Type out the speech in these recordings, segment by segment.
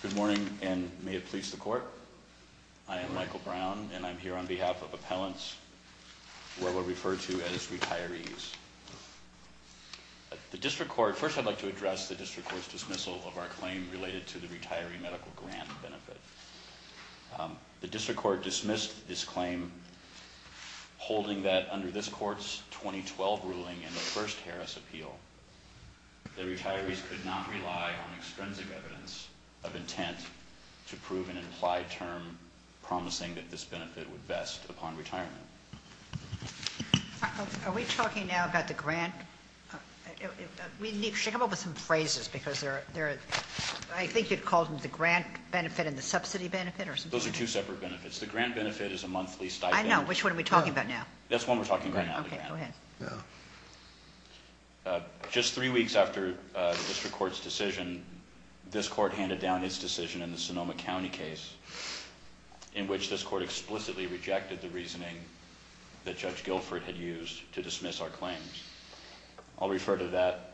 Good morning and may it please the court. I am Michael Brown and I'm here on behalf of appellants where we're referred to as retirees. The district court, first I'd like to address the district court's dismissal of our claim related to the retiree medical grant benefit. The district court dismissed this claim holding that under this court's 2012 ruling in the first Harris appeal the intent to prove an implied term promising that this benefit would vest upon retirement. Are we talking now about the grant? We need to come up with some phrases because they're there I think you'd call them the grant benefit and the subsidy benefit? Those are two separate benefits. The grant benefit is a monthly stipend. I know which one are we talking about now? That's one we're talking about now. Just three weeks after the district court's decision this court handed down its decision in the Sonoma County case in which this court explicitly rejected the reasoning that Judge Guilford had used to dismiss our claims. I'll refer to that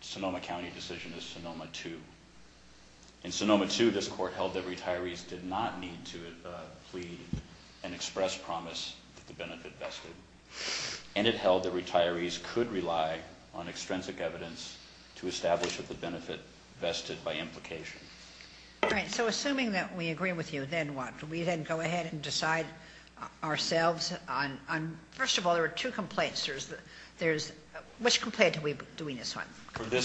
Sonoma County decision as Sonoma 2. In Sonoma 2 this court held that retirees did not need to plead and express promise that the benefit vested and it held that retirees could rely on extrinsic evidence to justify their application. So assuming that we agree with you then what? Do we then go ahead and decide ourselves on first of all there are two complaints there's there's which complaint are we doing this one? The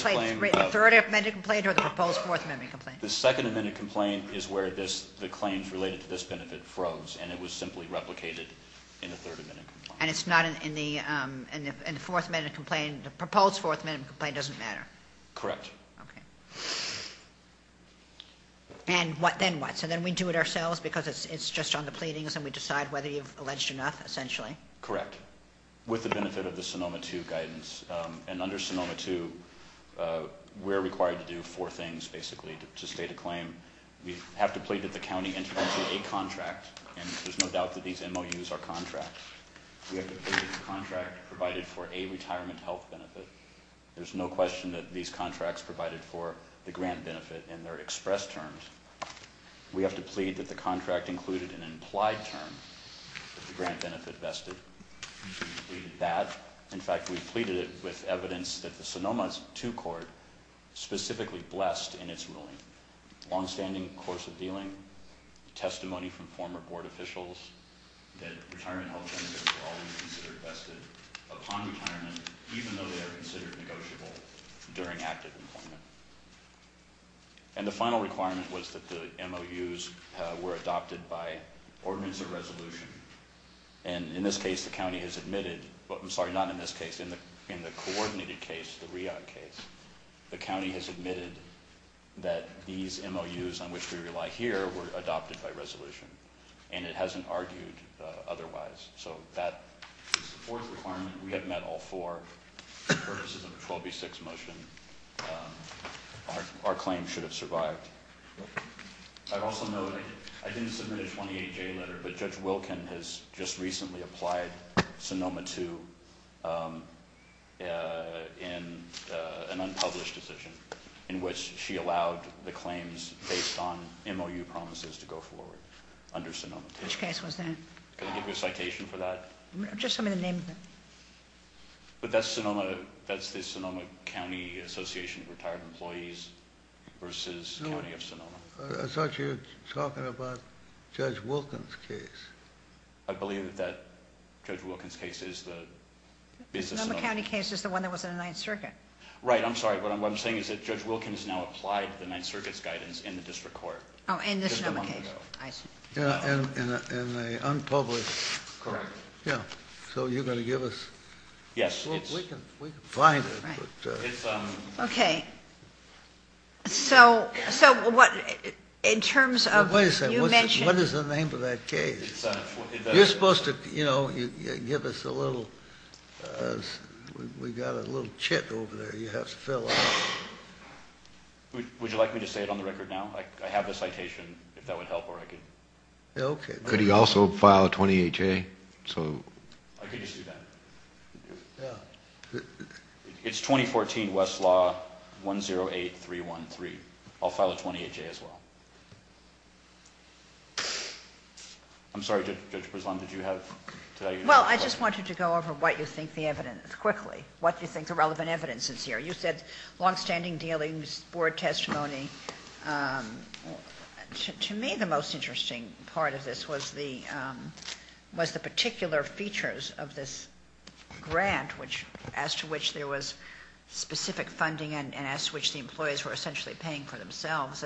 third amendment complaint or the proposed fourth amendment complaint? The second amendment complaint is where this the claims related to this benefit froze and it was simply replicated in the third amendment complaint. And it's not in the fourth amendment complaint the proposed fourth amendment complaint doesn't matter? Correct. And what then what? So then we do it ourselves because it's just on the pleadings and we decide whether you've alleged enough essentially? Correct. With the benefit of the Sonoma 2 guidance and under Sonoma 2 we're required to do four things basically to state a claim. We have to plead that the county entered into a contract and there's no doubt that these MOUs are contracts. We have to plead that the contract provided for a these contracts provided for the grant benefit and they're express terms. We have to plead that the contract included an implied term the grant benefit vested. We did that. In fact we pleaded it with evidence that the Sonoma 2 court specifically blessed in its ruling. Long-standing course of dealing, testimony from former board officials, that retirement health benefits are always considered vested upon retirement even though they are considered negotiable during retirement. During active employment. And the final requirement was that the MOUs were adopted by ordinance or resolution and in this case the county has admitted but I'm sorry not in this case in the in the coordinated case the REOG case the county has admitted that these MOUs on which we rely here were adopted by resolution and it hasn't argued otherwise so that fourth requirement we our claim should have survived. I've also noted I didn't submit a 28-J letter but Judge Wilkin has just recently applied Sonoma 2 in an unpublished decision in which she allowed the claims based on MOU promises to go forward under Sonoma 2. Which case was that? Can I give you a citation for that? Just tell me the name of it. But that's Sonoma, that's the Sonoma County Association of Retired Employees versus County of Sonoma. I thought you were talking about Judge Wilkin's case. I believe that Judge Wilkin's case is the... The Sonoma County case is the one that was in the Ninth Circuit. Right, I'm sorry, what I'm saying is that Judge Wilkin has now applied the Ninth Circuit's guidance in the district court. Oh, in the Sonoma case. I see. In an unpublished... Correct. Yeah, so you're going to give us... Yes, it's... We can find it. Okay, so in terms of... Wait a second, what is the name of that case? You're supposed to, you know, give us a little... We've got a little chip over there you have to fill out. Would you like me to say it on the record now? I have the citation, if that would help, or I could... Okay. Could he also file a 20HA, so... I could just do that. It's 2014, Westlaw, 108313. I'll file a 20HA as well. I'm sorry, Judge Bresland, did you have... Well, I just wanted to go over what you think the evidence...quickly, what you think the relevant evidence is here. You said longstanding dealings, board testimony. To me, the most interesting part of this was the particular features of this grant as to which there was specific funding and as to which the employees were essentially paying for themselves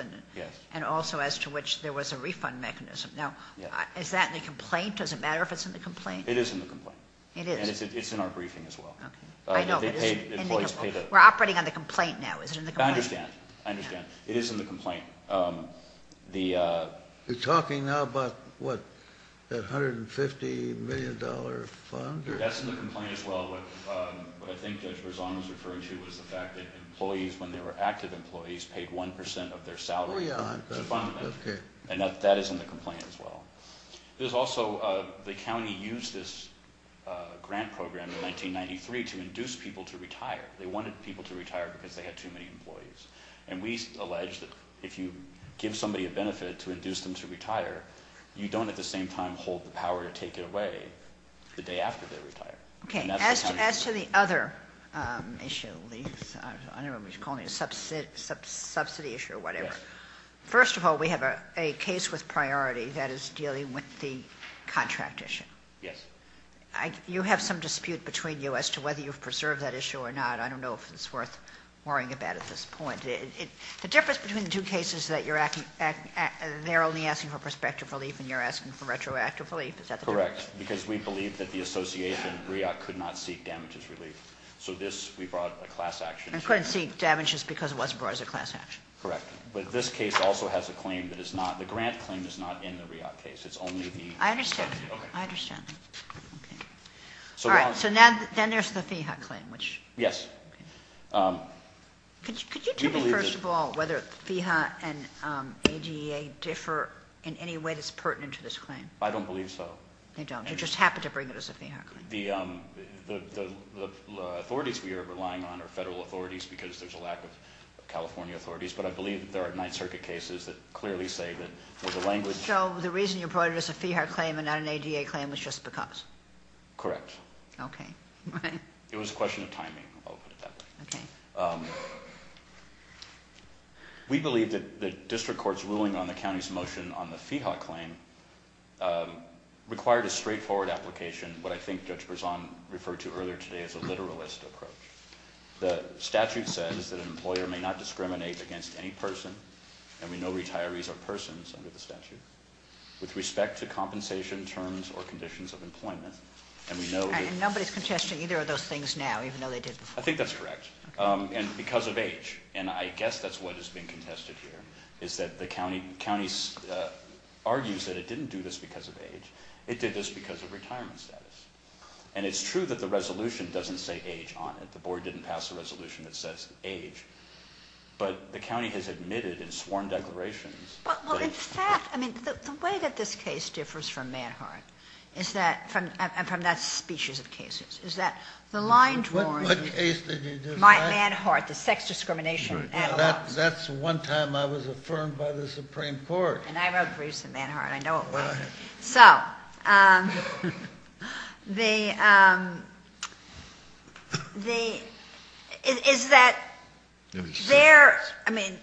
and also as to which there was a refund mechanism. Now, is that in the complaint? Does it matter if it's in the complaint? It is in the complaint. It is. And it's in our briefing as well. Okay. We're operating on the complaint now. Is it in the complaint? I understand. I understand. It is in the complaint. You're talking now about, what, that $150 million fund? That's in the complaint as well. What I think Judge Bresland was referring to was the fact that employees, when they were active employees, paid 1% of their salary. Oh, yeah. And that is in the complaint as well. There's also the county used this grant program in 1993 to induce people to retire. They wanted people to retire because they had too many employees. And we allege that if you give somebody a benefit to induce them to retire, you don't at the same time hold the power to take it away the day after they retire. Okay. As to the other issue, I don't remember what you're calling it, subsidy issue or whatever. Yes. First of all, we have a case with priority that is dealing with the contract issue. Yes. You have some dispute between you as to whether you've preserved that issue or not. I don't know if it's worth worrying about at this point. The difference between the two cases is that they're only asking for prospective relief and you're asking for retroactive relief. Is that the difference? Correct, because we believe that the association, REAC, could not seek damages relief. So this, we brought a class action. And couldn't seek damages because it wasn't brought as a class action. Correct. But this case also has a claim that is not, the grant claim is not in the REAC case. It's only the- I understand. Okay. I understand. Okay. All right. So now there's the FEHA claim, which- Yes. Okay. Could you tell me, first of all, whether FEHA and AGEA differ in any way that's pertinent to this claim? I don't believe so. You don't. You just happen to bring it as a FEHA claim. The authorities we are relying on are federal authorities because there's a lack of California authorities. But I believe there are Ninth Circuit cases that clearly say that there's a language- So the reason you brought it as a FEHA claim and not an AGEA claim was just because? Correct. Okay. Right. It was a question of timing. I'll put it that way. Okay. We believe that the district court's ruling on the county's motion on the FEHA claim required a straightforward application. What I think Judge Berzon referred to earlier today is a literalist approach. The statute says that an employer may not discriminate against any person, and we know retirees are persons under the statute, with respect to compensation terms or conditions of employment. And we know that- And nobody's contesting either of those things now, even though they did before. I think that's correct. Okay. And because of age. And I guess that's what is being contested here, is that the county argues that it didn't do this because of age. It did this because of retirement status. And it's true that the resolution doesn't say age on it. The board didn't pass a resolution that says age. But the county has admitted in sworn declarations- Well, in fact, I mean, the way that this case differs from Manhart, and from that species of cases, is that the line draws- What case did you define? Manhart, the sex discrimination. That's one time I was affirmed by the Supreme Court. And I wrote briefs in Manhart. I know it was. Go ahead. So, the- Is that there- I mean,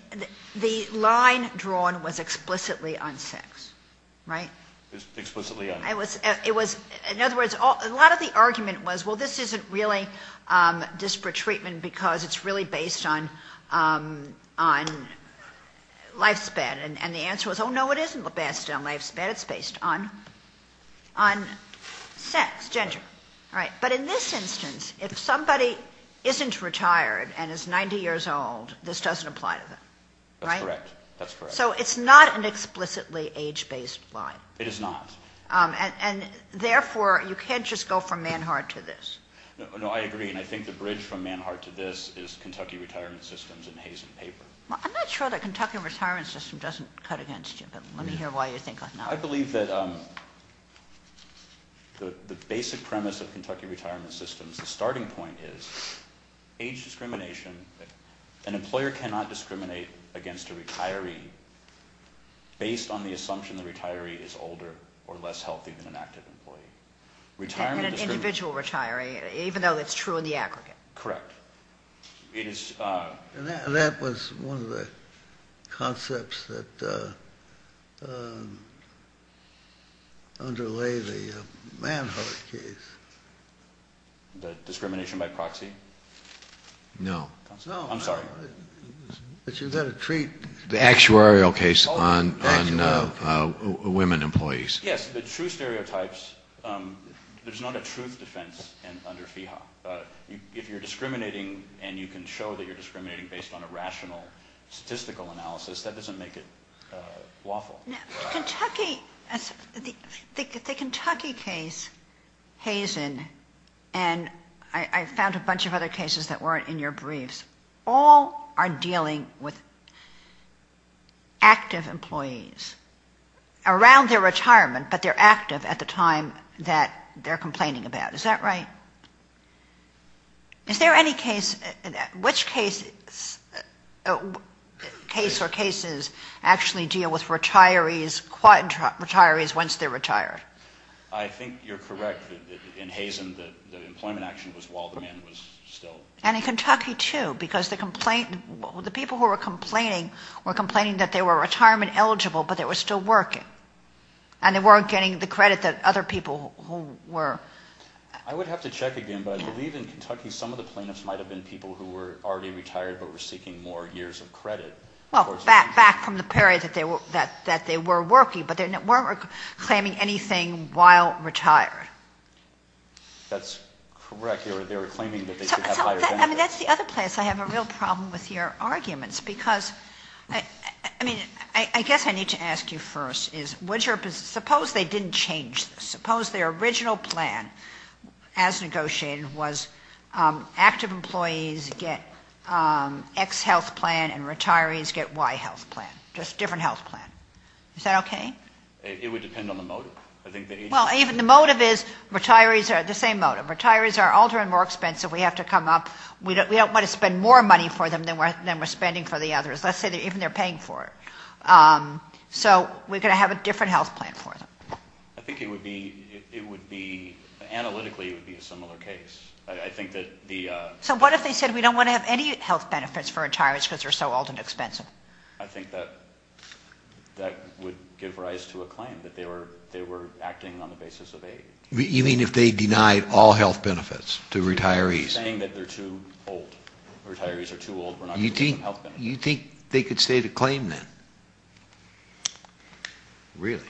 the line drawn was explicitly on sex, right? Explicitly on- It was- In other words, a lot of the argument was, well, this isn't really disparate treatment because it's really based on lifespan. And the answer was, oh, no, it isn't based on lifespan. It's based on sex, gender, right? But in this instance, if somebody isn't retired and is 90 years old, this doesn't apply to them, right? That's correct. So, it's not an explicitly age-based line. It is not. And, therefore, you can't just go from Manhart to this. No, I agree. And I think the bridge from Manhart to this is Kentucky retirement systems and Hayes and Paper. I'm not sure that Kentucky retirement system doesn't cut against you, but let me hear why you think not. I believe that the basic premise of Kentucky retirement systems, the starting point is age discrimination. An employer cannot discriminate against a retiree based on the assumption the retiree is older or less healthy than an active employee. And an individual retiree, even though that's true in the aggregate. Correct. And that was one of the concepts that underlay the Manhart case. The discrimination by proxy? No. I'm sorry. No, but you've got to treat. The actuarial case on women employees. Yes, the true stereotypes, there's not a truth defense under FEHA. If you're discriminating and you can show that you're discriminating based on a rational statistical analysis, that doesn't make it lawful. The Kentucky case, Hayes and I found a bunch of other cases that weren't in your briefs. All are dealing with active employees around their retirement, but they're active at the time that they're complaining about. Is that right? Is there any case, which case or cases actually deal with retirees, quad retirees once they're retired? I think you're correct. In Hayes, the employment action was while the man was still. And in Kentucky, too, because the people who were complaining were complaining that they were retirement eligible, but they were still working. And they weren't getting the credit that other people who were. I would have to check again, but I believe in Kentucky some of the plaintiffs might have been people who were already retired but were seeking more years of credit. Well, back from the period that they were working, but they weren't claiming anything while retired. That's correct. I mean, that's the other place I have a real problem with your arguments. Because, I mean, I guess I need to ask you first is suppose they didn't change this. Suppose their original plan as negotiated was active employees get X health plan and retirees get Y health plan, just different health plan. Is that okay? It would depend on the motive. We don't want to spend more money for them than we're spending for the others. Let's say even they're paying for it. So we're going to have a different health plan for them. I think it would be analytically it would be a similar case. I think that the... So what if they said we don't want to have any health benefits for retirees because they're so old and expensive? I think that would give rise to a claim that they were acting on the basis of age. You mean if they denied all health benefits to retirees? I'm not saying that they're too old. Retirees are too old. We're not going to give them health benefits. You think they could state a claim then? Really?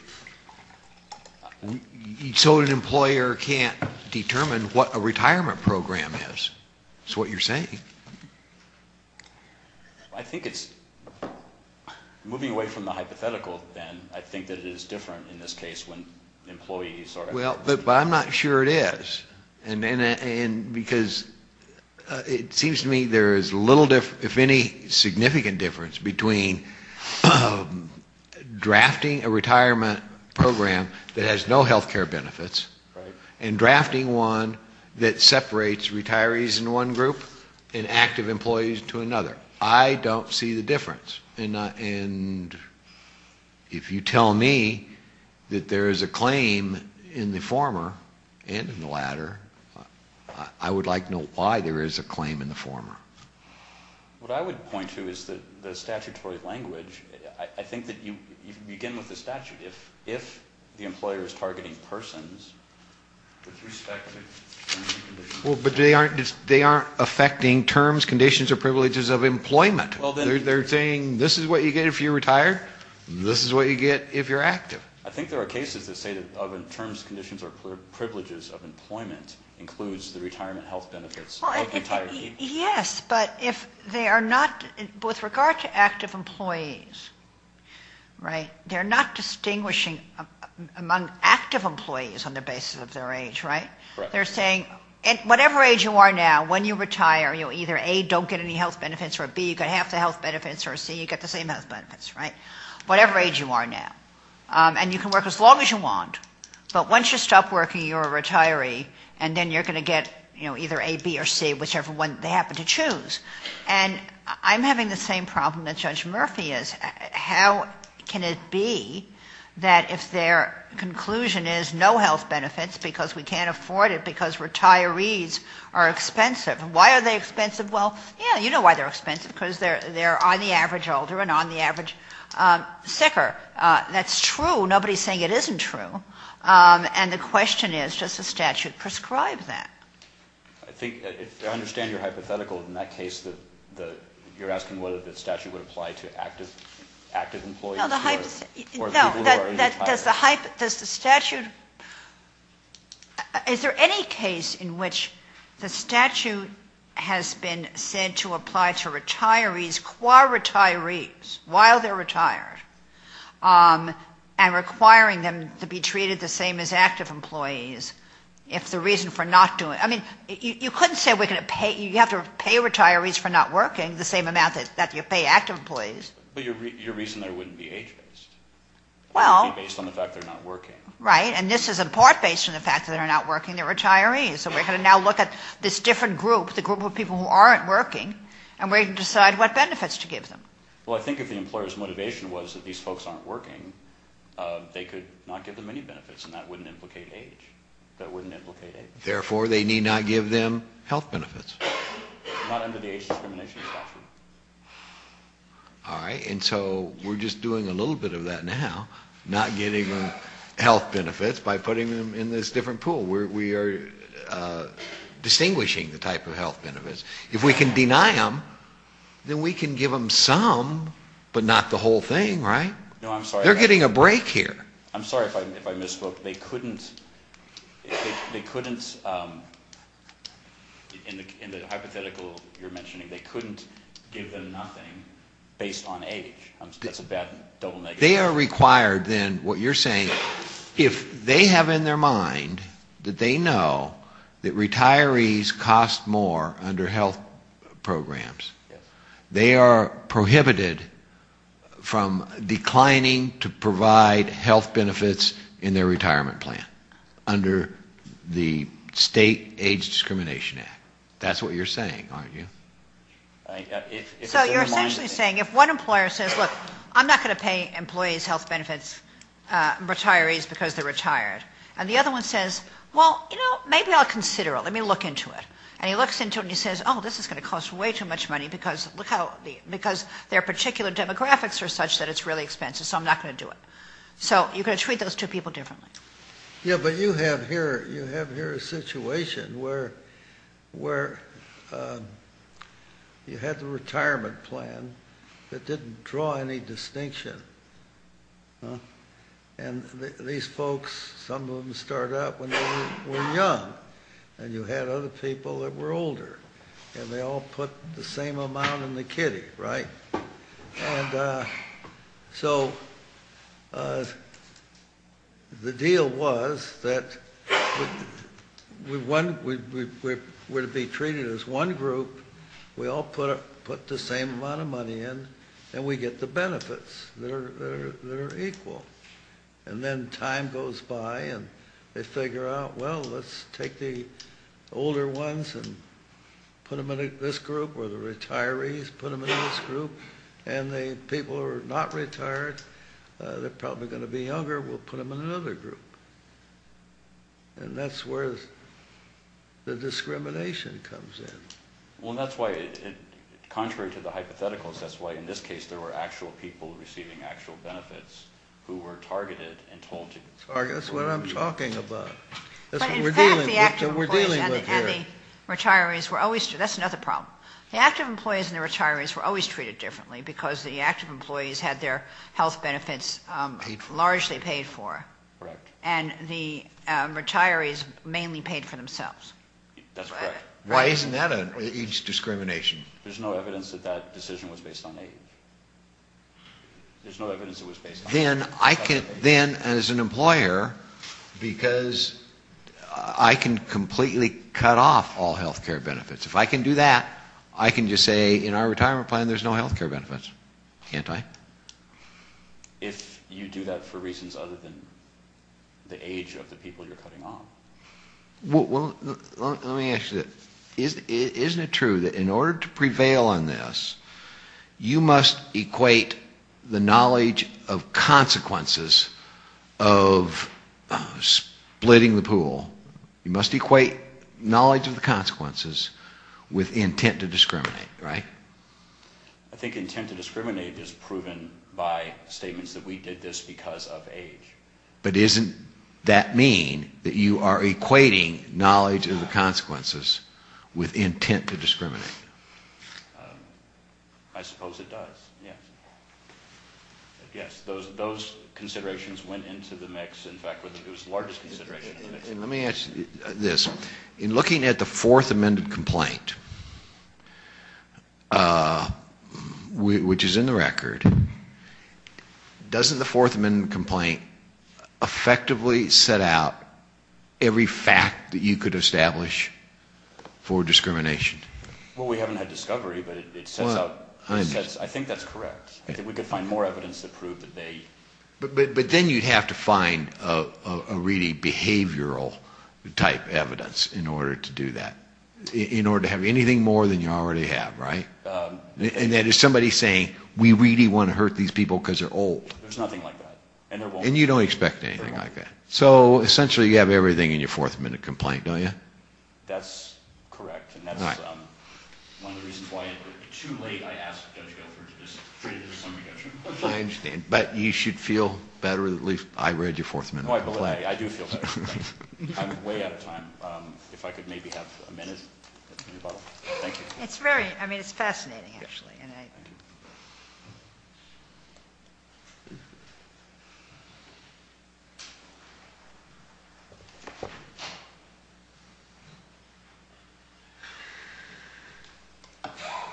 So an employer can't determine what a retirement program is is what you're saying? I think it's moving away from the hypothetical then. I think that it is different in this case when employees are... Well, but I'm not sure it is because it seems to me there is little difference, if any significant difference between drafting a retirement program that has no health care benefits and drafting one that separates retirees in one group and active employees to another. I don't see the difference. And if you tell me that there is a claim in the former and in the latter, I would like to know why there is a claim in the former. What I would point to is the statutory language. I think that you begin with the statute. If the employer is targeting persons with respect to... Well, but they aren't affecting terms, conditions, or privileges of employment. They're saying this is what you get if you retire. This is what you get if you're active. I think there are cases that say that terms, conditions, or privileges of employment includes the retirement health benefits of retirees. Yes, but if they are not... With regard to active employees, right, they're not distinguishing among active employees on the basis of their age, right? They're saying at whatever age you are now, when you retire, either A, don't get any health benefits, or B, you get half the health benefits, or C, you get the same health benefits, right? Whatever age you are now. And you can work as long as you want. But once you stop working, you're a retiree, and then you're going to get either A, B, or C, whichever one they happen to choose. And I'm having the same problem that Judge Murphy is. How can it be that if their conclusion is no health benefits because we can't afford it because retirees are expensive, why are they expensive? Well, yeah, you know why they're expensive, because they're on the average older and on the average sicker. That's true. Nobody is saying it isn't true. And the question is, does the statute prescribe that? I think, I understand your hypothetical in that case that you're asking whether the statute would apply to active employees or people who are retired. Does the statute, is there any case in which the statute has been said to apply to retirees, qua-retirees, while they're retired, and requiring them to be treated the same as active employees if the reason for not doing, I mean, you couldn't say we're going to pay, you have to pay retirees for not working the same amount that you pay active employees. But your reason there wouldn't be age-based. Well. It would be based on the fact they're not working. Right, and this is in part based on the fact that they're not working, they're retirees. So we're going to now look at this different group, the group of people who aren't working, and we're going to decide what benefits to give them. Well, I think if the employer's motivation was that these folks aren't working, they could not give them any benefits, and that wouldn't implicate age. That wouldn't implicate age. Therefore, they need not give them health benefits. Not under the age discrimination statute. All right, and so we're just doing a little bit of that now, not giving them health benefits by putting them in this different pool. We are distinguishing the type of health benefits. If we can deny them, then we can give them some, but not the whole thing, right? No, I'm sorry. They're getting a break here. I'm sorry if I misspoke. They couldn't, in the hypothetical you're mentioning, they couldn't give them nothing based on age. That's a bad double negative. They are required then, what you're saying, if they have in their mind that they know that retirees cost more under health programs, they are prohibited from declining to provide health benefits in their retirement plan under the state age discrimination act. That's what you're saying, aren't you? So you're essentially saying if one employer says, look, I'm not going to pay employees health benefits, retirees, because they're retired, and the other one says, well, you know, maybe I'll consider it. Let me look into it. And he looks into it and he says, oh, this is going to cost way too much money because their particular demographics are such that it's really expensive, so I'm not going to do it. So you're going to treat those two people differently. Yeah, but you have here a situation where you had the retirement plan that didn't draw any distinction, and these folks, some of them started out when they were young, and you had other people that were older, and they all put the same amount in the kitty, right? And so the deal was that we were to be treated as one group, we all put the same amount of money in, and we get the benefits that are equal. And then time goes by and they figure out, well, let's take the older ones and put them in this group, or the retirees, put them in this group, and the people who are not retired, they're probably going to be younger, we'll put them in another group. And that's where the discrimination comes in. Well, that's why, contrary to the hypotheticals, that's why in this case there were actual people receiving actual benefits who were targeted and told to be targeted. That's what I'm talking about. That's what we're dealing with here. But in fact the active employees and the retirees were always treated differently. That's another problem. The active employees and the retirees were always treated differently because the active employees had their health benefits largely paid for, and the retirees mainly paid for themselves. That's correct. Why isn't that age discrimination? There's no evidence that that decision was based on age. There's no evidence it was based on age. Then as an employer, because I can completely cut off all health care benefits, if I can do that, I can just say in our retirement plan there's no health care benefits, can't I? If you do that for reasons other than the age of the people you're cutting off. Let me ask you this. Isn't it true that in order to prevail on this, you must equate the knowledge of consequences of splitting the pool, you must equate knowledge of the consequences with intent to discriminate, right? I think intent to discriminate is proven by statements that we did this because of age. But doesn't that mean that you are equating knowledge of the consequences with intent to discriminate? I suppose it does, yes. Yes, those considerations went into the mix. In fact, it was the largest consideration in the mix. Let me ask you this. In looking at the Fourth Amendment complaint, which is in the record, doesn't the Fourth Amendment complaint effectively set out every fact that you could establish for discrimination? Well, we haven't had discovery, but I think that's correct. We could find more evidence to prove that they... But then you'd have to find a really behavioral type evidence in order to do that, in order to have anything more than you already have, right? And then there's somebody saying, we really want to hurt these people because they're old. There's nothing like that. And you don't expect anything like that. So essentially you have everything in your Fourth Amendment complaint, don't you? That's correct. And that's one of the reasons why too late I asked Judge Gelford to just treat it as a summary judgment. I understand. But you should feel better that I read your Fourth Amendment complaint. I do feel better. I'm way out of time. If I could maybe have a minute. Thank you. It's very, I mean, it's fascinating, actually.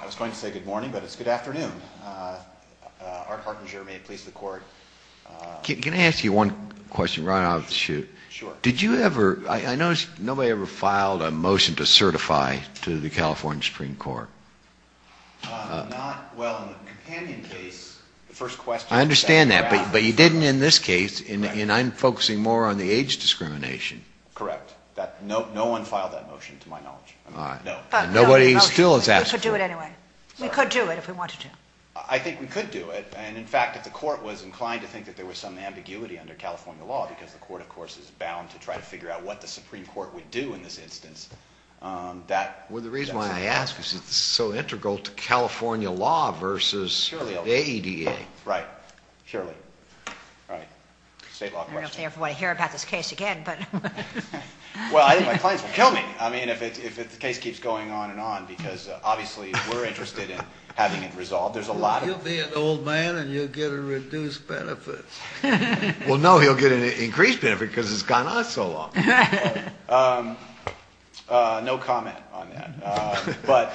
I was going to say good morning, but it's good afternoon. Art Hartinger, Maine Police, La Corte. Can I ask you one question right off the chute? Sure. Did you ever, I noticed nobody ever filed a motion to certify to the California Supreme Court. Not, well, in the companion case, the first question. I understand that. But you didn't in this case. And I'm focusing more on the age discrimination. Correct. No one filed that motion, to my knowledge. Nobody still has asked you. We could do it anyway. We could do it if we wanted to. I think we could do it. And, in fact, if the court was inclined to think that there was some ambiguity under California law, because the court, of course, is bound to try to figure out what the Supreme Court would do in this instance, that. Well, the reason why I ask is it's so integral to California law versus the ADA. Right. Surely. All right. State law question. I don't know if they ever want to hear about this case again, but. Well, I think my clients will kill me. I mean, if the case keeps going on and on, because, obviously, we're interested in having it resolved. There's a lot of. He'll be an old man and you'll get a reduced benefit. Well, no, he'll get an increased benefit because it's gone on so long. No comment on that. But,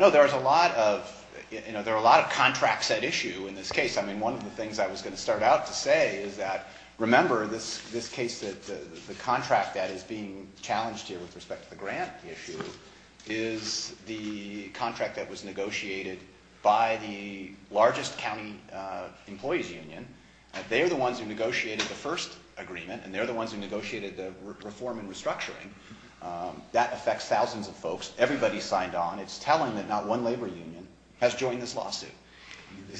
no, there's a lot of, you know, there are a lot of contracts at issue in this case. I mean, one of the things I was going to start out to say is that, remember, this case, the contract that is being challenged here with respect to the grant issue, is the contract that was negotiated by the largest county employees union. They are the ones who negotiated the first agreement, and they're the ones who negotiated the reform and restructuring. That affects thousands of folks. Everybody signed on. It's telling that not one labor union has joined this lawsuit.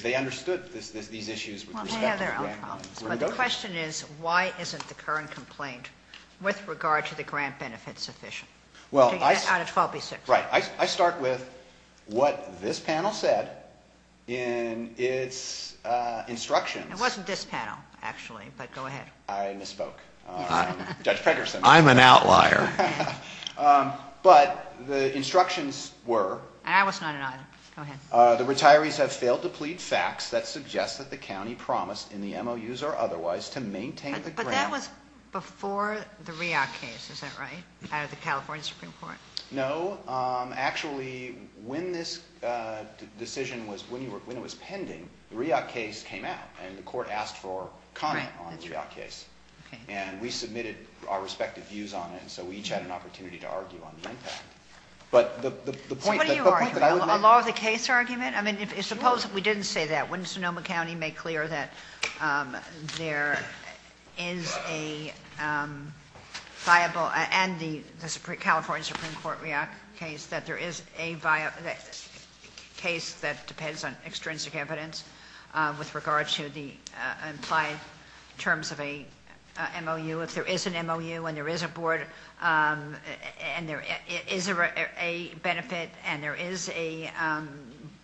They understood these issues with respect to the grant. Well, they have their own problems. But the question is, why isn't the current complaint with regard to the grant benefit sufficient? Well, I start with what this panel said in its instructions. It wasn't this panel, actually, but go ahead. I misspoke. Judge Pregerson. I'm an outlier. But the instructions were. And I was not in either. Go ahead. The retirees have failed to plead facts that suggest that the county promised in the MOUs or otherwise to maintain the grant. That was before the REAC case, is that right, out of the California Supreme Court? No. Actually, when this decision was pending, the REAC case came out, and the court asked for comment on the REAC case. And we submitted our respective views on it, and so we each had an opportunity to argue on the impact. So what are you arguing? A law of the case argument? I mean, suppose if we didn't say that, wouldn't Sonoma County make clear that there is a viable, and the California Supreme Court REAC case, that there is a case that depends on extrinsic evidence with regard to the implied terms of a MOU. If there is an MOU, and there is a board, and there is a benefit, and there is a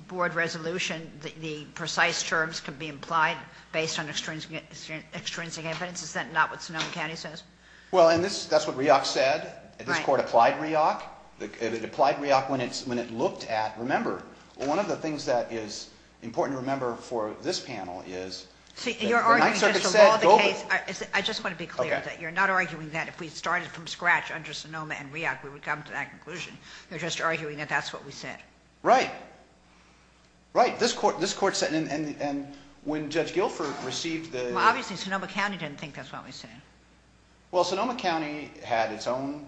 board resolution, the precise terms can be implied based on extrinsic evidence. Is that not what Sonoma County says? Well, and that's what REAC said. This court applied REAC. It applied REAC when it looked at. Remember, one of the things that is important to remember for this panel is. See, you're arguing just the law of the case. I just want to be clear that you're not arguing that if we started from scratch under Sonoma and REAC, we would come to that conclusion. You're just arguing that that's what we said. Right. Right. This court said, and when Judge Guilford received the... Well, obviously Sonoma County didn't think that's what we said. Well, Sonoma County had its own...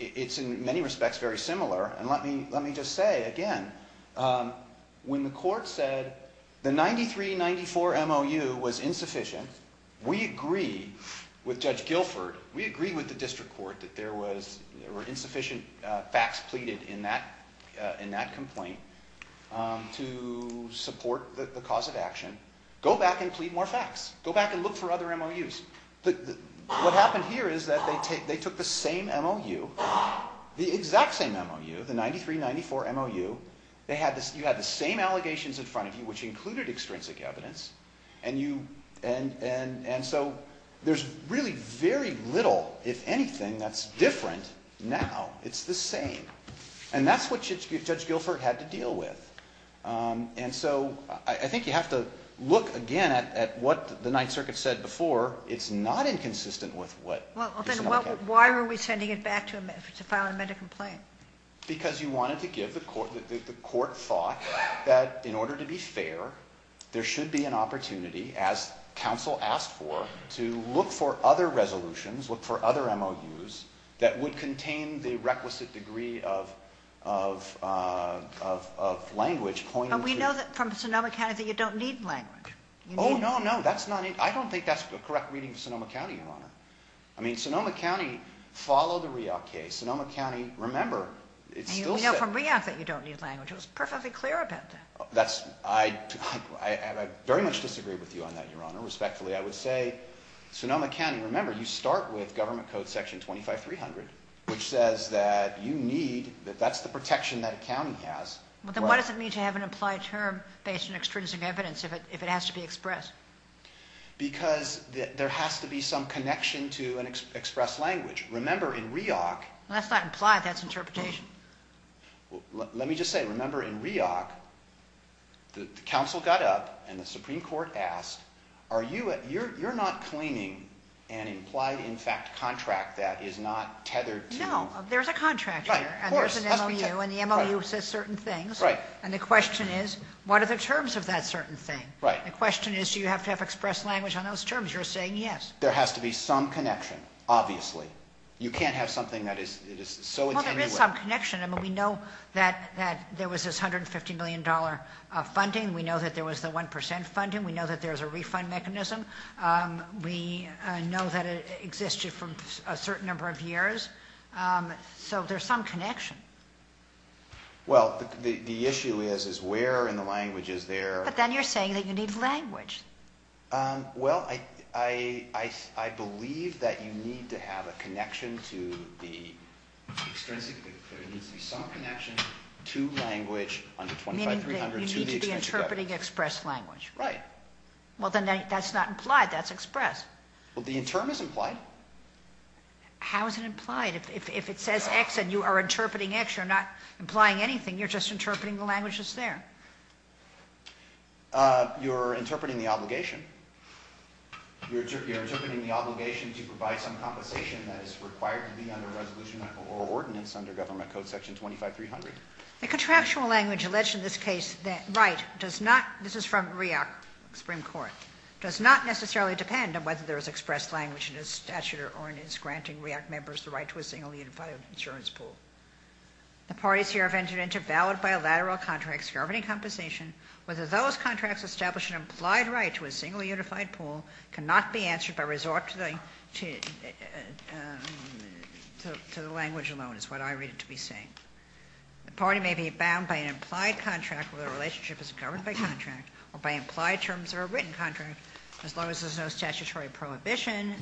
It's in many respects very similar, and let me just say again... When the court said the 9394 MOU was insufficient, we agree with Judge Guilford. We agree with the district court that there were insufficient facts pleaded in that complaint to support the cause of action. Go back and plead more facts. Go back and look for other MOUs. What happened here is that they took the same MOU, the exact same MOU, the 9394 MOU. You had the same allegations in front of you, which included extrinsic evidence. And so there's really very little, if anything, that's different now. It's the same. And that's what Judge Guilford had to deal with. And so I think you have to look again at what the Ninth Circuit said before. It's not inconsistent with what... Well, then why were we sending it back to file an amended complaint? Because you wanted to give the court thought that in order to be fair, there should be an opportunity, as counsel asked for, to look for other resolutions, look for other MOUs that would contain the requisite degree of language pointed to... But we know from Sonoma County that you don't need language. Oh, no, no. That's not... I don't think that's a correct reading of Sonoma County, Your Honor. I mean, Sonoma County followed the REOC case. Sonoma County, remember, it still says... And you know from REOC that you don't need language. It was perfectly clear about that. That's... I very much disagree with you on that, Your Honor, respectfully. I would say Sonoma County, remember, you start with Government Code Section 25300, which says that you need... that that's the protection that a county has. Well, then what does it mean to have an implied term based on extrinsic evidence if it has to be expressed? Because there has to be some connection to an expressed language. Remember, in REOC... That's not implied. That's interpretation. Let me just say, remember, in REOC, the counsel got up and the Supreme Court asked, are you... you're not claiming an implied, in fact, contract that is not tethered to... No, there's a contract here. Right, of course. And there's an MOU, and the MOU says certain things. Right. And the question is, what are the terms of that certain thing? Right. The question is, do you have to have expressed language on those terms? You're saying yes. There has to be some connection, obviously. You can't have something that is so... Well, there is some connection. I mean, we know that there was this $150 million funding. We know that there was the 1 percent funding. We know that there's a refund mechanism. We know that it existed for a certain number of years. So there's some connection. Well, the issue is, is where in the language is there... But then you're saying that you need language. Well, I believe that you need to have a connection to the... Extrinsically, there needs to be some connection to language under 25-300... Meaning that you need to be interpreting expressed language. Right. Well, then that's not implied. That's expressed. Well, the term is implied. How is it implied? If it says X and you are interpreting X, you're not implying anything. You're just interpreting the language that's there. Okay. You're interpreting the obligation. You're interpreting the obligation to provide some compensation that is required to be under a resolution or ordinance under Government Code Section 25-300. The contractual language alleged in this case... Right. Does not... This is from REAC Supreme Court. Does not necessarily depend on whether there is expressed language in his statute or in his granting REAC members the right to a singly unified insurance pool. The parties here have entered into valid bilateral contracts governing compensation. Whether those contracts establish an implied right to a singly unified pool cannot be answered by resort to the language alone is what I read it to be saying. The party may be bound by an implied contract where the relationship is governed by contract or by implied terms of a written contract as long as there is no statutory prohibition.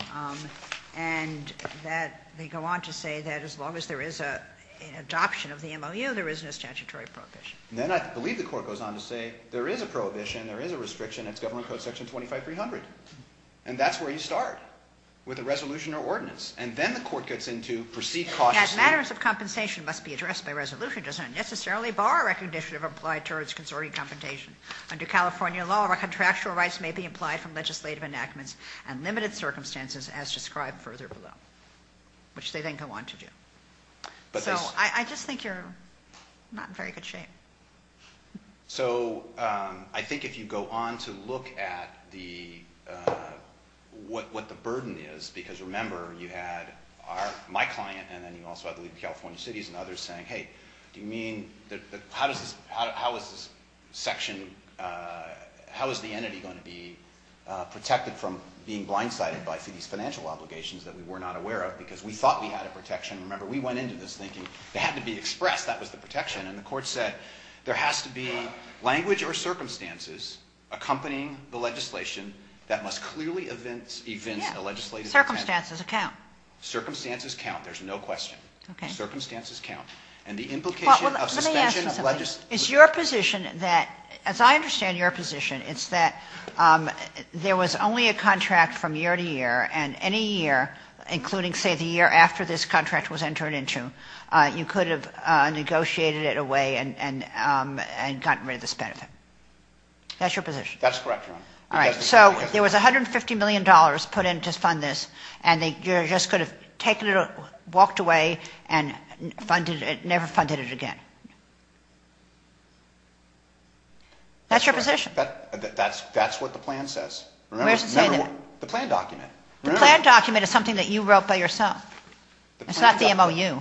And that they go on to say that as long as there is an adoption of the MOU, there is no statutory prohibition. Then I believe the court goes on to say there is a prohibition, there is a restriction. It's Government Code Section 25-300. And that's where you start with a resolution or ordinance. And then the court gets into proceed cautiously... That matters of compensation must be addressed by resolution does not necessarily bar a recognition of implied terms of consortium compensation. Under California law, contractual rights may be implied from legislative enactments and limited circumstances as described further below. Which they then go on to do. So I just think you're not in very good shape. So I think if you go on to look at what the burden is, because remember you had my client and then you also had the lead of California cities and others saying, hey, do you mean... How is the entity going to be protected from being blindsided by these financial obligations that we were not aware of because we thought we had a protection. Remember we went into this thinking they had to be expressed. That was the protection. And the court said there has to be language or circumstances accompanying the legislation that must clearly evince a legislative intent. Yeah. Circumstances account. Circumstances count. There's no question. Circumstances count. Well, let me ask you something. It's your position that, as I understand your position, it's that there was only a contract from year to year and any year, including say the year after this contract was entered into, you could have negotiated it away and gotten rid of this benefit. That's your position? That's correct, Your Honor. All right. So there was $150 million put in to fund this and you just could have taken it, walked away, and never funded it again. That's your position? That's what the plan says. Remember, the plan document. The plan document is something that you wrote by yourself. It's not the MOU.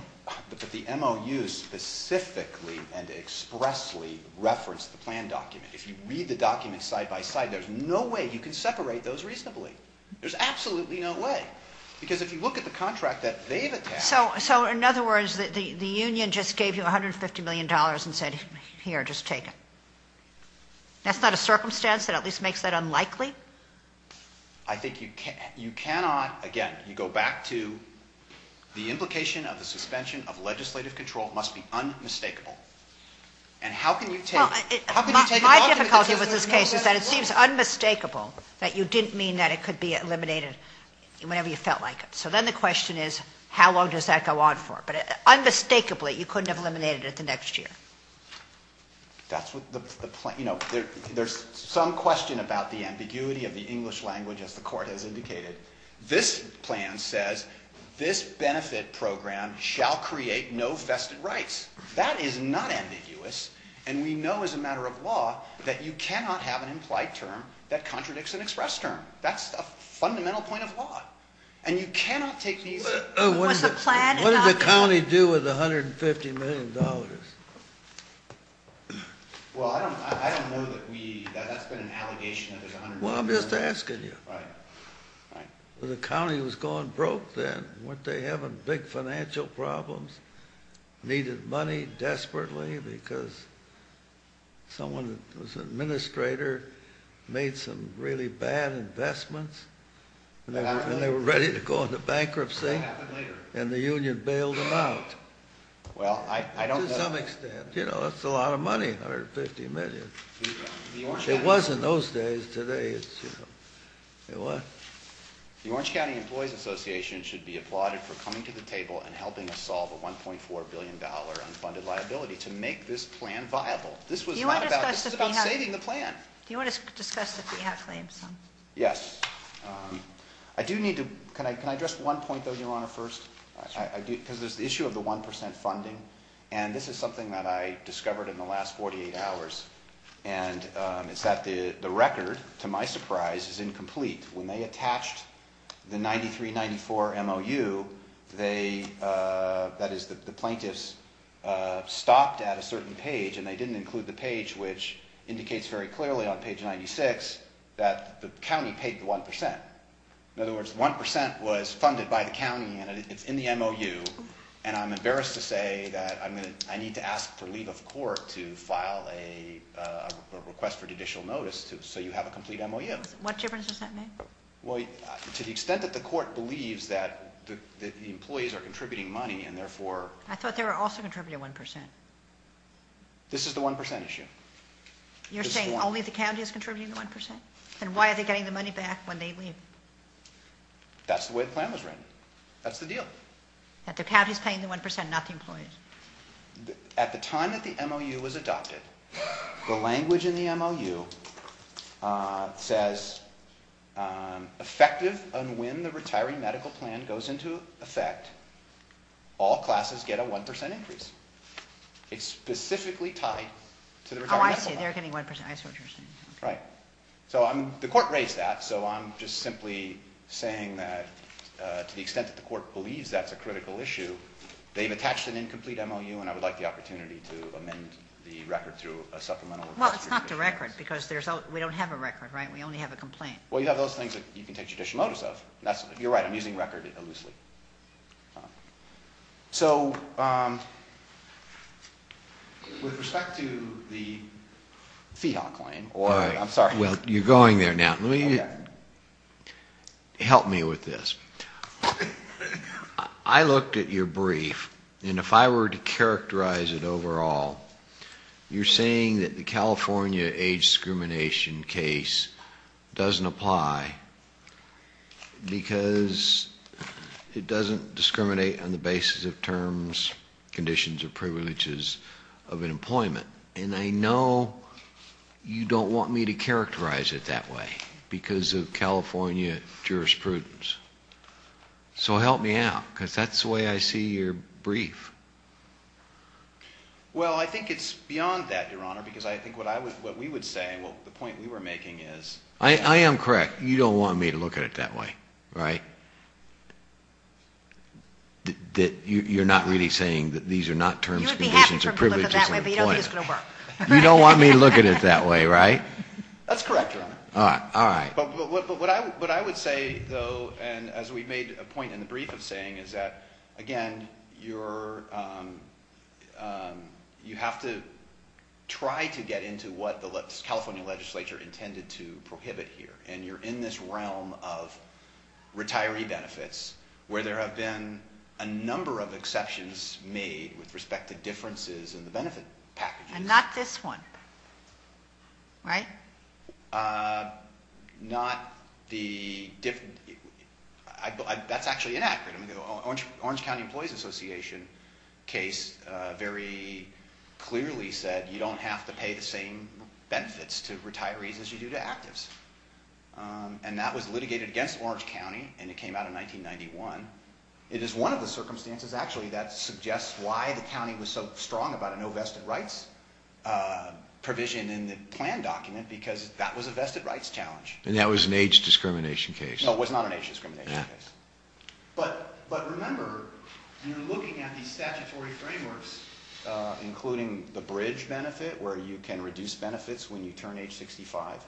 But the MOU specifically and expressly referenced the plan document. If you read the document side by side, there's no way you can separate those reasonably. There's absolutely no way. Because if you look at the contract that they've attacked. So, in other words, the union just gave you $150 million and said, here, just take it. That's not a circumstance that at least makes that unlikely? I think you cannot, again, you go back to the implication of the suspension of legislative control must be unmistakable. And how can you take it? My difficulty with this case is that it seems unmistakable that you didn't mean that it could be eliminated whenever you felt like it. So then the question is, how long does that go on for? But unmistakably, you couldn't have eliminated it the next year. That's what the plan, you know, there's some question about the ambiguity of the English language, as the court has indicated. This plan says, this benefit program shall create no vested rights. That is not ambiguous. And we know as a matter of law that you cannot have an implied term that contradicts an expressed term. That's a fundamental point of law. And you cannot take these. Was the plan adopted? What did the county do with $150 million? Well, I don't know that we, that's been an allegation that there's $150 million. Well, I'm just asking you. Right, right. The county was going broke then. Weren't they having big financial problems? Needed money desperately because someone who was an administrator made some really bad investments, and they were ready to go into bankruptcy, and the union bailed them out. Well, I don't know. To some extent. You know, that's a lot of money, $150 million. It was in those days. Today it's, you know, it was. The Orange County Employees Association should be applauded for coming to the table and helping us solve a $1.4 billion unfunded liability to make this plan viable. This was not about, this was about saving the plan. Do you want to discuss the fee-hat claim? Yes. I do need to, can I address one point, though, Your Honor, first? Sure. Because there's the issue of the 1% funding, and this is something that I discovered in the last 48 hours, and it's that the record, to my surprise, is incomplete. When they attached the 9394 MOU, that is, the plaintiffs stopped at a certain page, and they didn't include the page which indicates very clearly on page 96 that the county paid the 1%. In other words, 1% was funded by the county, and it's in the MOU, and I'm embarrassed to say that I need to ask for leave of court to file a request for judicial notice so you have a complete MOU. What difference does that make? Well, to the extent that the court believes that the employees are contributing money and therefore... I thought they were also contributing 1%. This is the 1% issue. You're saying only the county is contributing the 1%? Then why are they getting the money back when they leave? That's the way the plan was written. That's the deal. That the county is paying the 1%, not the employees. At the time that the MOU was adopted, the language in the MOU says, effective on when the retiring medical plan goes into effect, all classes get a 1% increase. It's specifically tied to the retiring medical plan. Oh, I see. They're getting 1%. I see what you're saying. Right. So the court raised that, so I'm just simply saying that to the extent that the court believes that's a critical issue, they've attached an incomplete MOU, and I would like the opportunity to amend the record through a supplemental request. Well, it's not the record, because we don't have a record, right? We only have a complaint. Well, you have those things that you can take judicial notice of. You're right. I'm using record loosely. So, with respect to the Feehawk claim... All right. I'm sorry. Well, you're going there now. Help me with this. I looked at your brief, and if I were to characterize it overall, you're saying that the California age discrimination case doesn't apply because it doesn't discriminate on the basis of terms, conditions, or privileges of employment. And I know you don't want me to characterize it that way because of California jurisprudence. So help me out, because that's the way I see your brief. Well, I think it's beyond that, Your Honor, because I think what we would say, the point we were making is... I am correct. You don't want me to look at it that way, right? You're not really saying that these are not terms, conditions, or privileges of employment. You would be happy for me to look at it that way, but you don't think it's going to work. You don't want me to look at it that way, right? That's correct, Your Honor. All right. But what I would say, though, and as we made a point in the brief of saying, is that, again, you have to try to get into what the California legislature intended to prohibit here. And you're in this realm of retiree benefits, where there have been a number of exceptions made with respect to differences in the benefit packages. And not this one, right? Not the... That's actually inaccurate. The Orange County Employees Association case very clearly said, you don't have to pay the same benefits to retirees as you do to actives. And that was litigated against Orange County, and it came out in 1991. It is one of the circumstances, actually, that suggests why the county was so strong about a no vested rights provision in the plan document, because that was a vested rights challenge. And that was an age discrimination case. No, it was not an age discrimination case. But remember, you're looking at these statutory frameworks, including the bridge benefit, where you can reduce benefits when you turn age 65,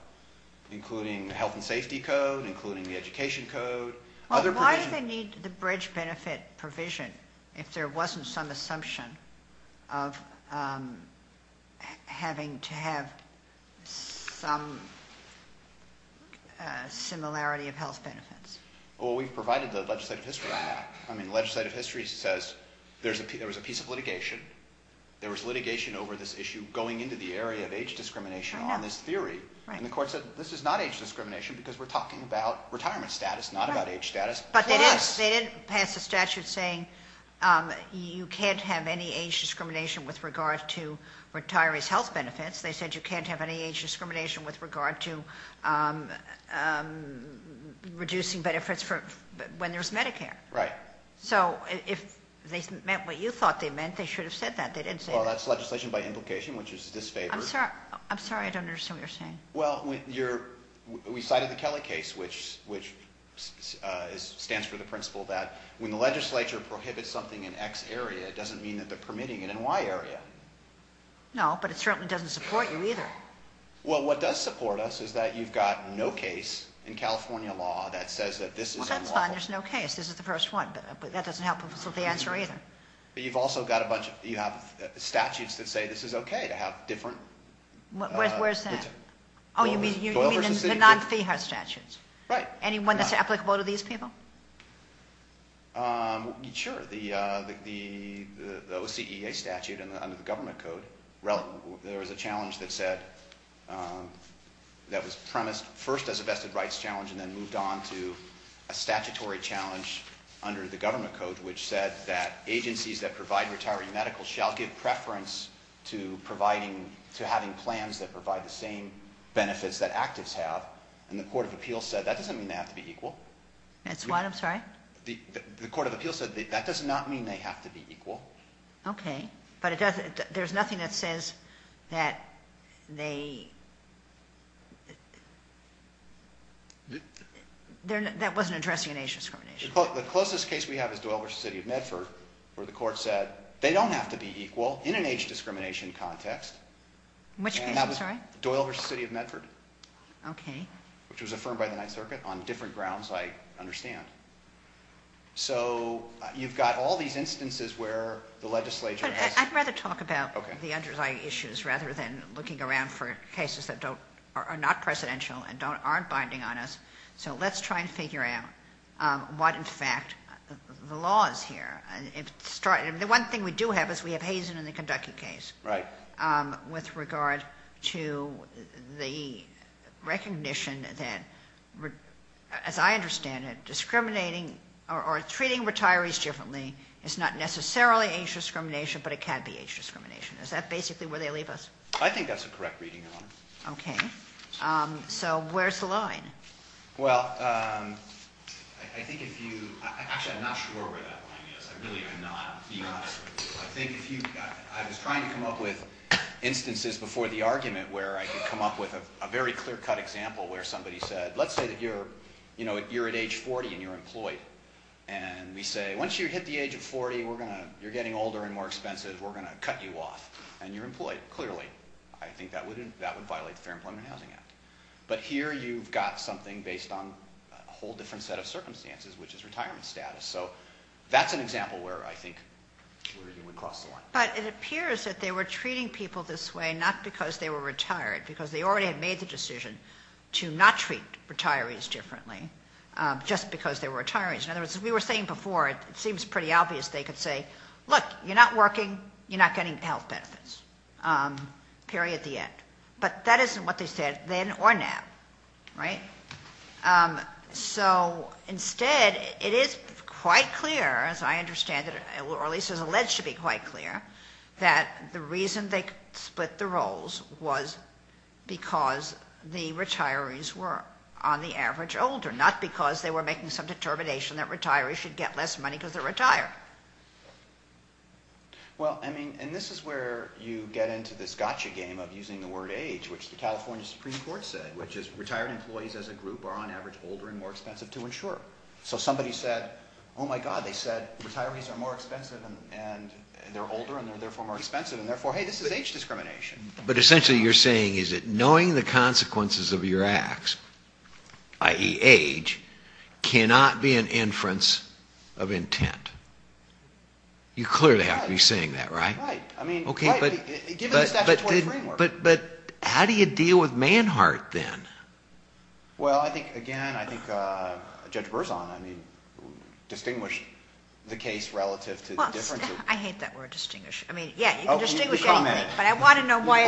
including the health and safety code, including the education code. Well, why do they need the bridge benefit provision if there wasn't some assumption of having to have some similarity of health benefits? Well, we've provided the legislative history on that. I mean, legislative history says there was a piece of litigation. There was litigation over this issue going into the area of age discrimination on this theory. And the court said, this is not age discrimination, because we're talking about retirement status, not about age status. But they did pass a statute saying you can't have any age discrimination with regard to retirees' health benefits. They said you can't have any age discrimination with regard to reducing benefits when there's Medicare. Right. So if they meant what you thought they meant, they should have said that. They didn't say that. Well, that's legislation by implication, which is disfavored. I'm sorry, I don't understand what you're saying. Well, we cited the Kelly case, which stands for the principle that when the legislature prohibits something in X area, it doesn't mean that they're permitting it in Y area. No, but it certainly doesn't support you either. Well, what does support us is that you've got no case in California law that says that this is unlawful. Well, that's fine. There's no case. This is the first one. But that doesn't help us with the answer either. But you've also got a bunch of statutes that say this is okay to have different. Where's that? Oh, you mean the non-FEHA statutes? Right. Any one that's applicable to these people? Sure. The OCEA statute under the government code, there was a challenge that said that was premised first as a vested rights challenge and then moved on to a statutory challenge under the government code, which said that agencies that provide retiree medical shall give preference to having plans that provide the same benefits that actives have. And the Court of Appeals said that doesn't mean they have to be equal. That's what? I'm sorry? The Court of Appeals said that does not mean they have to be equal. Okay. But there's nothing that says that they – that wasn't addressing age discrimination. The closest case we have is Doyle v. City of Medford, where the court said they don't have to be equal in an age discrimination context. Which case? I'm sorry? Doyle v. City of Medford. Okay. Which was affirmed by the Ninth Circuit on different grounds, I understand. So you've got all these instances where the legislature has – But I'd rather talk about the underlying issues rather than looking around for cases that are not presidential and aren't binding on us. So let's try and figure out what, in fact, the law is here. The one thing we do have is we have Hazen in the Kentucky case. Right. With regard to the recognition that, as I understand it, discriminating or treating retirees differently is not necessarily age discrimination, but it can be age discrimination. Is that basically where they leave us? I think that's a correct reading, Your Honor. Okay. So where's the line? Well, I think if you – actually, I'm not sure where that line is. I really am not. I think if you – I was trying to come up with instances before the argument where I could come up with a very clear-cut example where somebody said, let's say that you're at age 40 and you're employed. And we say, once you hit the age of 40, you're getting older and more expensive. We're going to cut you off. And you're employed, clearly. I think that would violate the Fair Employment and Housing Act. But here you've got something based on a whole different set of circumstances, which is retirement status. So that's an example where I think we cross the line. But it appears that they were treating people this way not because they were retired, because they already had made the decision to not treat retirees differently just because they were retirees. In other words, as we were saying before, it seems pretty obvious they could say, look, you're not working. You're not getting health benefits. Period, the end. But that isn't what they said then or now. Right? So instead, it is quite clear, as I understand it, or at least it's alleged to be quite clear, that the reason they split the roles was because the retirees were, on the average, older, not because they were making some determination that retirees should get less money because they're retired. Well, I mean, and this is where you get into this gotcha game of using the word age, which the California Supreme Court said, which is retired employees as a group are, on average, older and more expensive to insure. So somebody said, oh, my God, they said retirees are more expensive, and they're older, and they're therefore more expensive, and therefore, hey, this is age discrimination. But essentially, you're saying is that knowing the consequences of your acts, i.e. age, cannot be an inference of intent. You clearly have to be saying that, right? Right. I mean, right, given the statutory framework. But how do you deal with Manhart then? Well, I think, again, I think Judge Berzon, I mean, distinguished the case relative to the difference. Well, I hate that word distinguish. I mean, yeah, you can distinguish anything. But I want to know why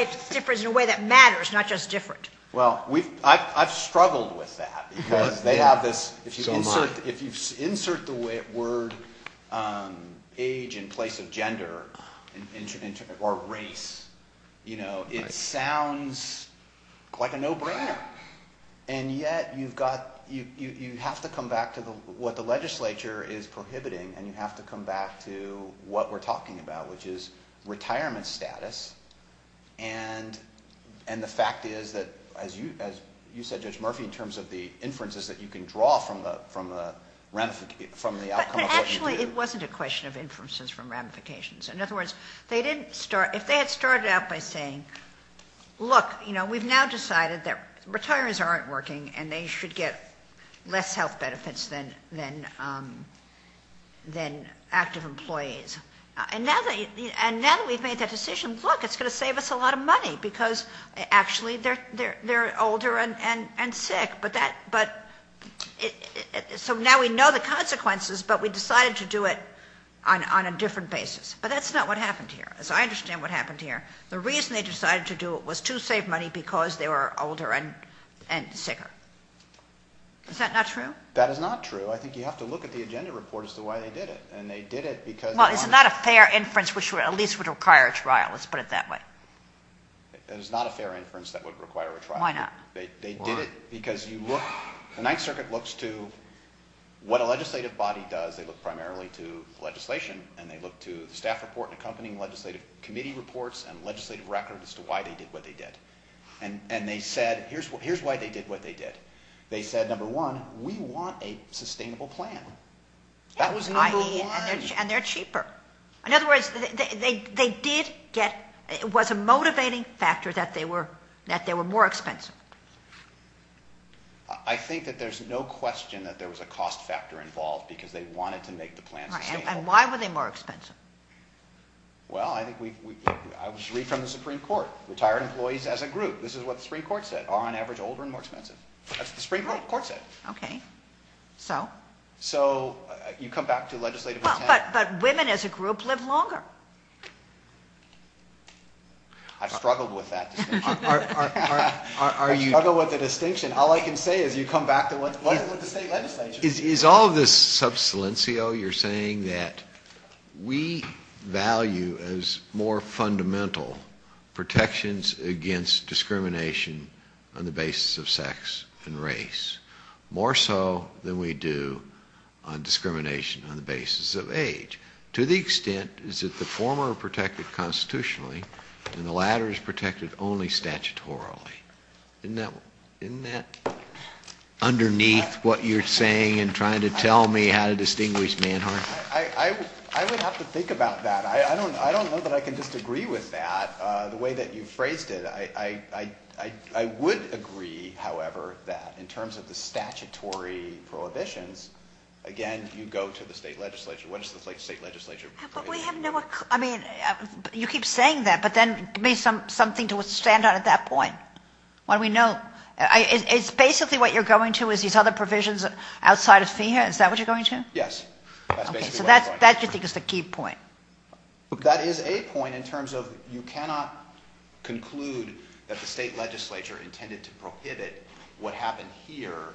it's different in a way that matters, not just different. Well, I've struggled with that because they have this, if you insert the word age in place of gender or race, you know, it sounds like a no-brainer. And yet you've got, you have to come back to what the legislature is prohibiting, and you have to come back to what we're talking about, which is retirement status. And the fact is that, as you said, Judge Murphy, in terms of the inferences that you can draw from the outcome of what you do. But actually, it wasn't a question of inferences from ramifications. In other words, they didn't start, if they had started out by saying, look, you know, we've now decided that retirees aren't working, and they should get less health benefits than active employees. And now that we've made that decision, look, it's going to save us a lot of money because, actually, they're older and sick. But that, so now we know the consequences, but we decided to do it on a different basis. But that's not what happened here. So I understand what happened here. The reason they decided to do it was to save money because they were older and sicker. Is that not true? That is not true. I think you have to look at the agenda report as to why they did it. And they did it because they wanted to. Well, it's not a fair inference, which at least would require a trial. Let's put it that way. It is not a fair inference that would require a trial. Why not? They did it because you look, the Ninth Circuit looks to what a legislative body does. They look primarily to legislation, and they look to the staff report and accompanying legislative committee reports and legislative records as to why they did what they did. And they said, here's why they did what they did. They said, number one, we want a sustainable plan. That was number one. And they're cheaper. In other words, they did get, it was a motivating factor that they were more expensive. I think that there's no question that there was a cost factor involved because they wanted to make the plan sustainable. And why were they more expensive? Well, I think we, I was reading from the Supreme Court. Retired employees as a group, this is what the Supreme Court said, are on average older and more expensive. That's what the Supreme Court said. Okay. So? So you come back to legislative intent. But women as a group live longer. I've struggled with that distinction. I struggle with the distinction. All I can say is you come back to what the state legislature said. Is all of this sub silencio you're saying that we value as more fundamental protections against discrimination on the basis of sex and race, more so than we do on discrimination on the basis of age, to the extent is that the former are protected constitutionally and the latter is protected only statutorily. Isn't that underneath what you're saying and trying to tell me how to distinguish manhood? I would have to think about that. I don't know that I can disagree with that, the way that you phrased it. I would agree, however, that in terms of the statutory prohibitions, again, you go to the state legislature. What does the state legislature prohibit? You keep saying that, but then give me something to stand on at that point. Why don't we know? It's basically what you're going to is these other provisions outside of FEMA. Is that what you're going to? Yes. That's basically what I'm going to. Okay. So that you think is the key point. That is a point in terms of you cannot conclude that the state legislature intended to prohibit what happened here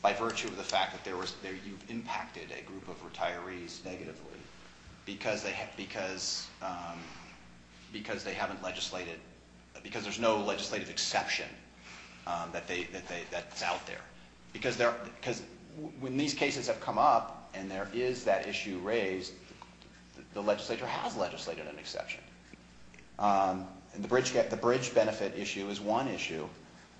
by virtue of the fact that you've impacted a group of retirees negatively because there's no legislative exception that's out there. Because when these cases have come up and there is that issue raised, the legislature has legislated an exception. The bridge benefit issue is one issue.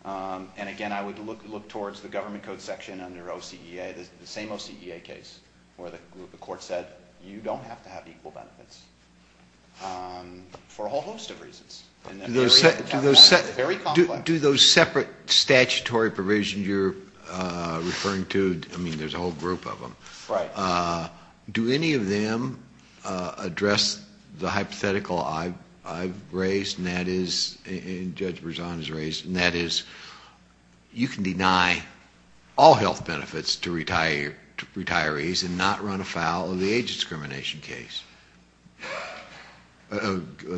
And again, I would look towards the government code section under OCEA, the same OCEA case where the court said you don't have to have equal benefits for a whole host of reasons. Very complex. Do those separate statutory provisions you're referring to, I mean, there's a whole group of them. Right. Do any of them address the hypothetical I've raised and that is, and Judge Berzon has raised, and that is you can deny all health benefits to retirees and not run afoul of the age discrimination case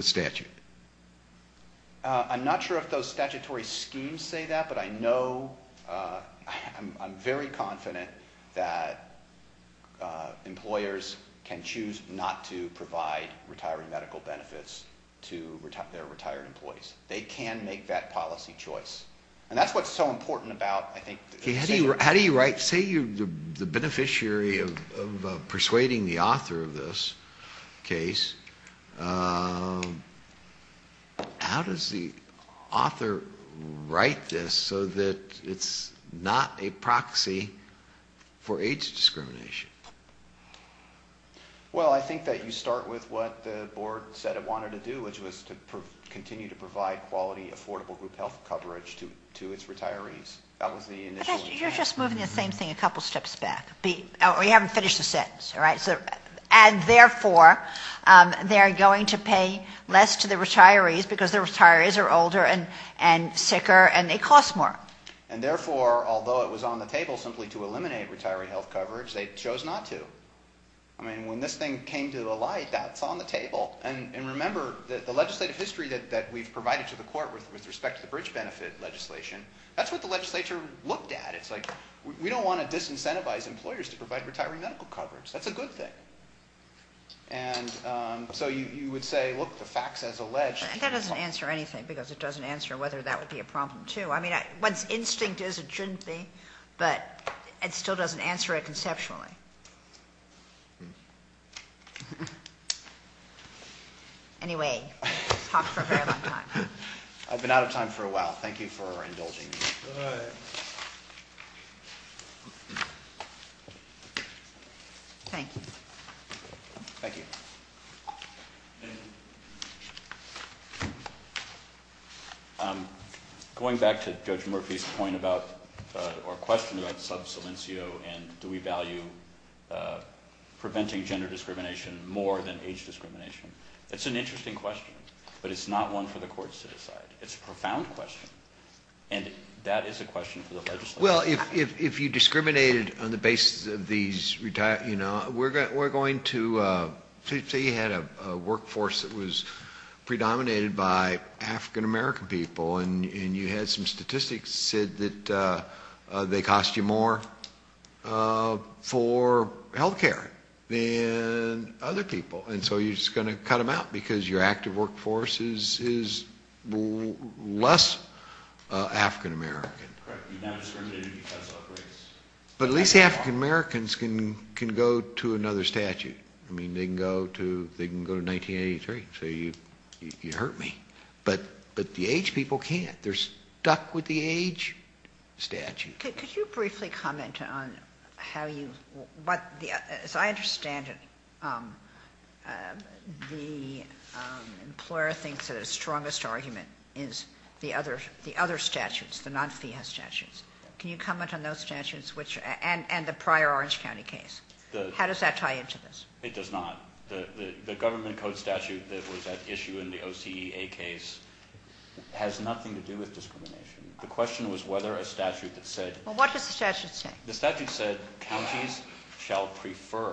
statute. I'm not sure if those statutory schemes say that, but I know, I'm very confident that employers can choose not to provide retired medical benefits to their retired employees. They can make that policy choice. And that's what's so important about, I think. How do you write, say you're the beneficiary of persuading the author of this case, how does the author write this so that it's not a proxy for age discrimination? Well, I think that you start with what the board said it wanted to do, which was to continue to provide quality, affordable group health coverage to its retirees. That was the initial. You're just moving the same thing a couple steps back. We haven't finished the sentence, all right? And therefore, they're going to pay less to the retirees because the retirees are older and sicker and they cost more. And therefore, although it was on the table simply to eliminate retiree health coverage, they chose not to. I mean, when this thing came to light, that's on the table. And remember, the legislative history that we've provided to the court with respect to the bridge benefit legislation, that's what the legislature looked at. It's like we don't want to disincentivize employers to provide retiree medical coverage. That's a good thing. And so you would say, look, the facts as alleged. That doesn't answer anything because it doesn't answer whether that would be a problem, too. I mean, one's instinct is it shouldn't be, but it still doesn't answer it conceptually. Anyway, we've talked for a very long time. I've been out of time for a while. Thank you for indulging me. Thank you. Thank you. Thank you. Going back to Judge Murphy's point about or question about sub saliencio and do we value preventing gender discrimination more than age discrimination, it's an interesting question, but it's not one for the courts to decide. It's a profound question. And that is a question for the legislature. Well, if you discriminated on the basis of these retirees, we're going to say you had a workforce that was predominated by African-American people and you had some statistics that said they cost you more for health care than other people. And so you're just going to cut them out because your active workforce is less African-American. But at least African-Americans can go to another statute. I mean, they can go to 1983, so you hurt me. But the age people can't. They're stuck with the age statute. Could you briefly comment on how you what the as I understand it, the employer thinks that a strongest argument is the other the other statutes, the non fee has statutes. Can you comment on those statutes, which and the prior Orange County case? How does that tie into this? It does not. The government code statute that was at issue in the OCA case has nothing to do with discrimination. The question was whether a statute that said, well, what does the statute say? The statute said counties shall prefer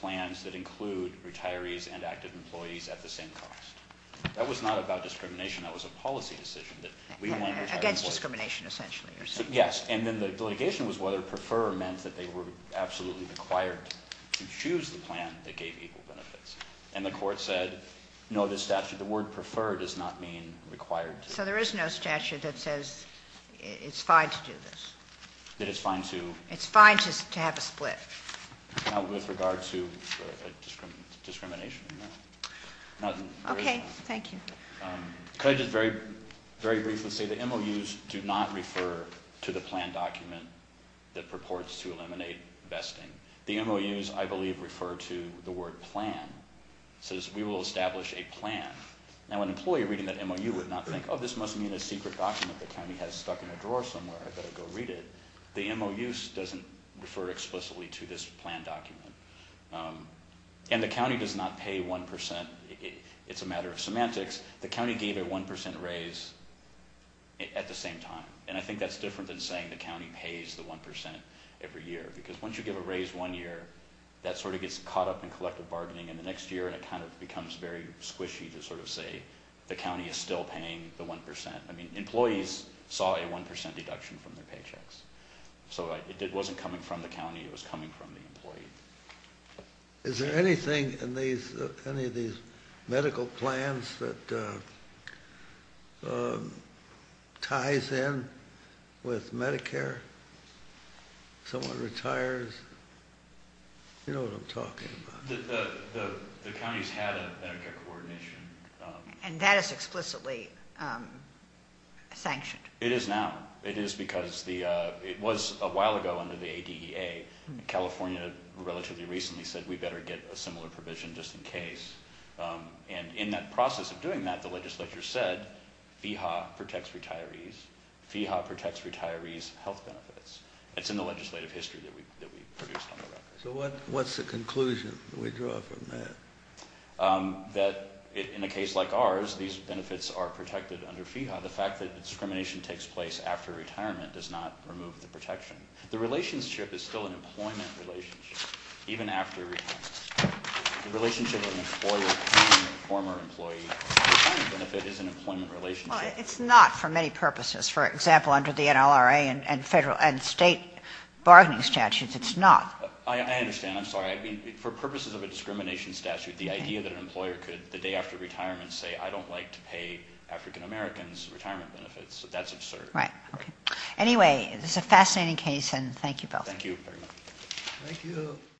plans that include retirees and active employees at the same cost. That was not about discrimination. That was a policy decision that we went against discrimination, essentially. Yes. And then the litigation was whether prefer meant that they were absolutely required to choose the plan that gave equal benefits. And the court said, no, this statute, the word preferred does not mean required. So there is no statute that says it's fine to do this. That it's fine to. It's fine to have a split. With regard to discrimination. Okay. Thank you. Could I just very briefly say the MOUs do not refer to the plan document that purports to eliminate vesting. The MOUs, I believe, refer to the word plan. It says we will establish a plan. Now, an employee reading that MOU would not think, oh, this must mean a secret document the county has stuck in a drawer somewhere. I better go read it. The MOUs doesn't refer explicitly to this plan document. And the county does not pay 1%. It's a matter of semantics. The county gave a 1% raise at the same time. And I think that's different than saying the county pays the 1% every year. Because once you give a raise one year, that sort of gets caught up in collective bargaining. And the next year it kind of becomes very squishy to sort of say the county is still paying the 1%. I mean, employees saw a 1% deduction from their paychecks. So it wasn't coming from the county. It was coming from the employee. Is there anything in any of these medical plans that ties in with Medicare? Someone retires? You know what I'm talking about. The county's had a Medicare coordination. And that is explicitly sanctioned. It is now. It is because it was a while ago under the ADEA. California relatively recently said we better get a similar provision just in case. And in that process of doing that, the legislature said FEHA protects retirees. FEHA protects retirees' health benefits. It's in the legislative history that we produced on the record. So what's the conclusion that we draw from that? That in a case like ours, these benefits are protected under FEHA. The fact that discrimination takes place after retirement does not remove the protection. The relationship is still an employment relationship even after retirement. The relationship of an employer paying a former employee retirement benefit is an employment relationship. It's not for many purposes. For example, under the NLRA and state bargaining statutes, it's not. I understand. I'm sorry. For purposes of a discrimination statute, the idea that an employer could the day after retirement say, I don't like to pay African Americans retirement benefits, that's absurd. Right. Anyway, this is a fascinating case, and thank you both. Thank you very much. Thank you.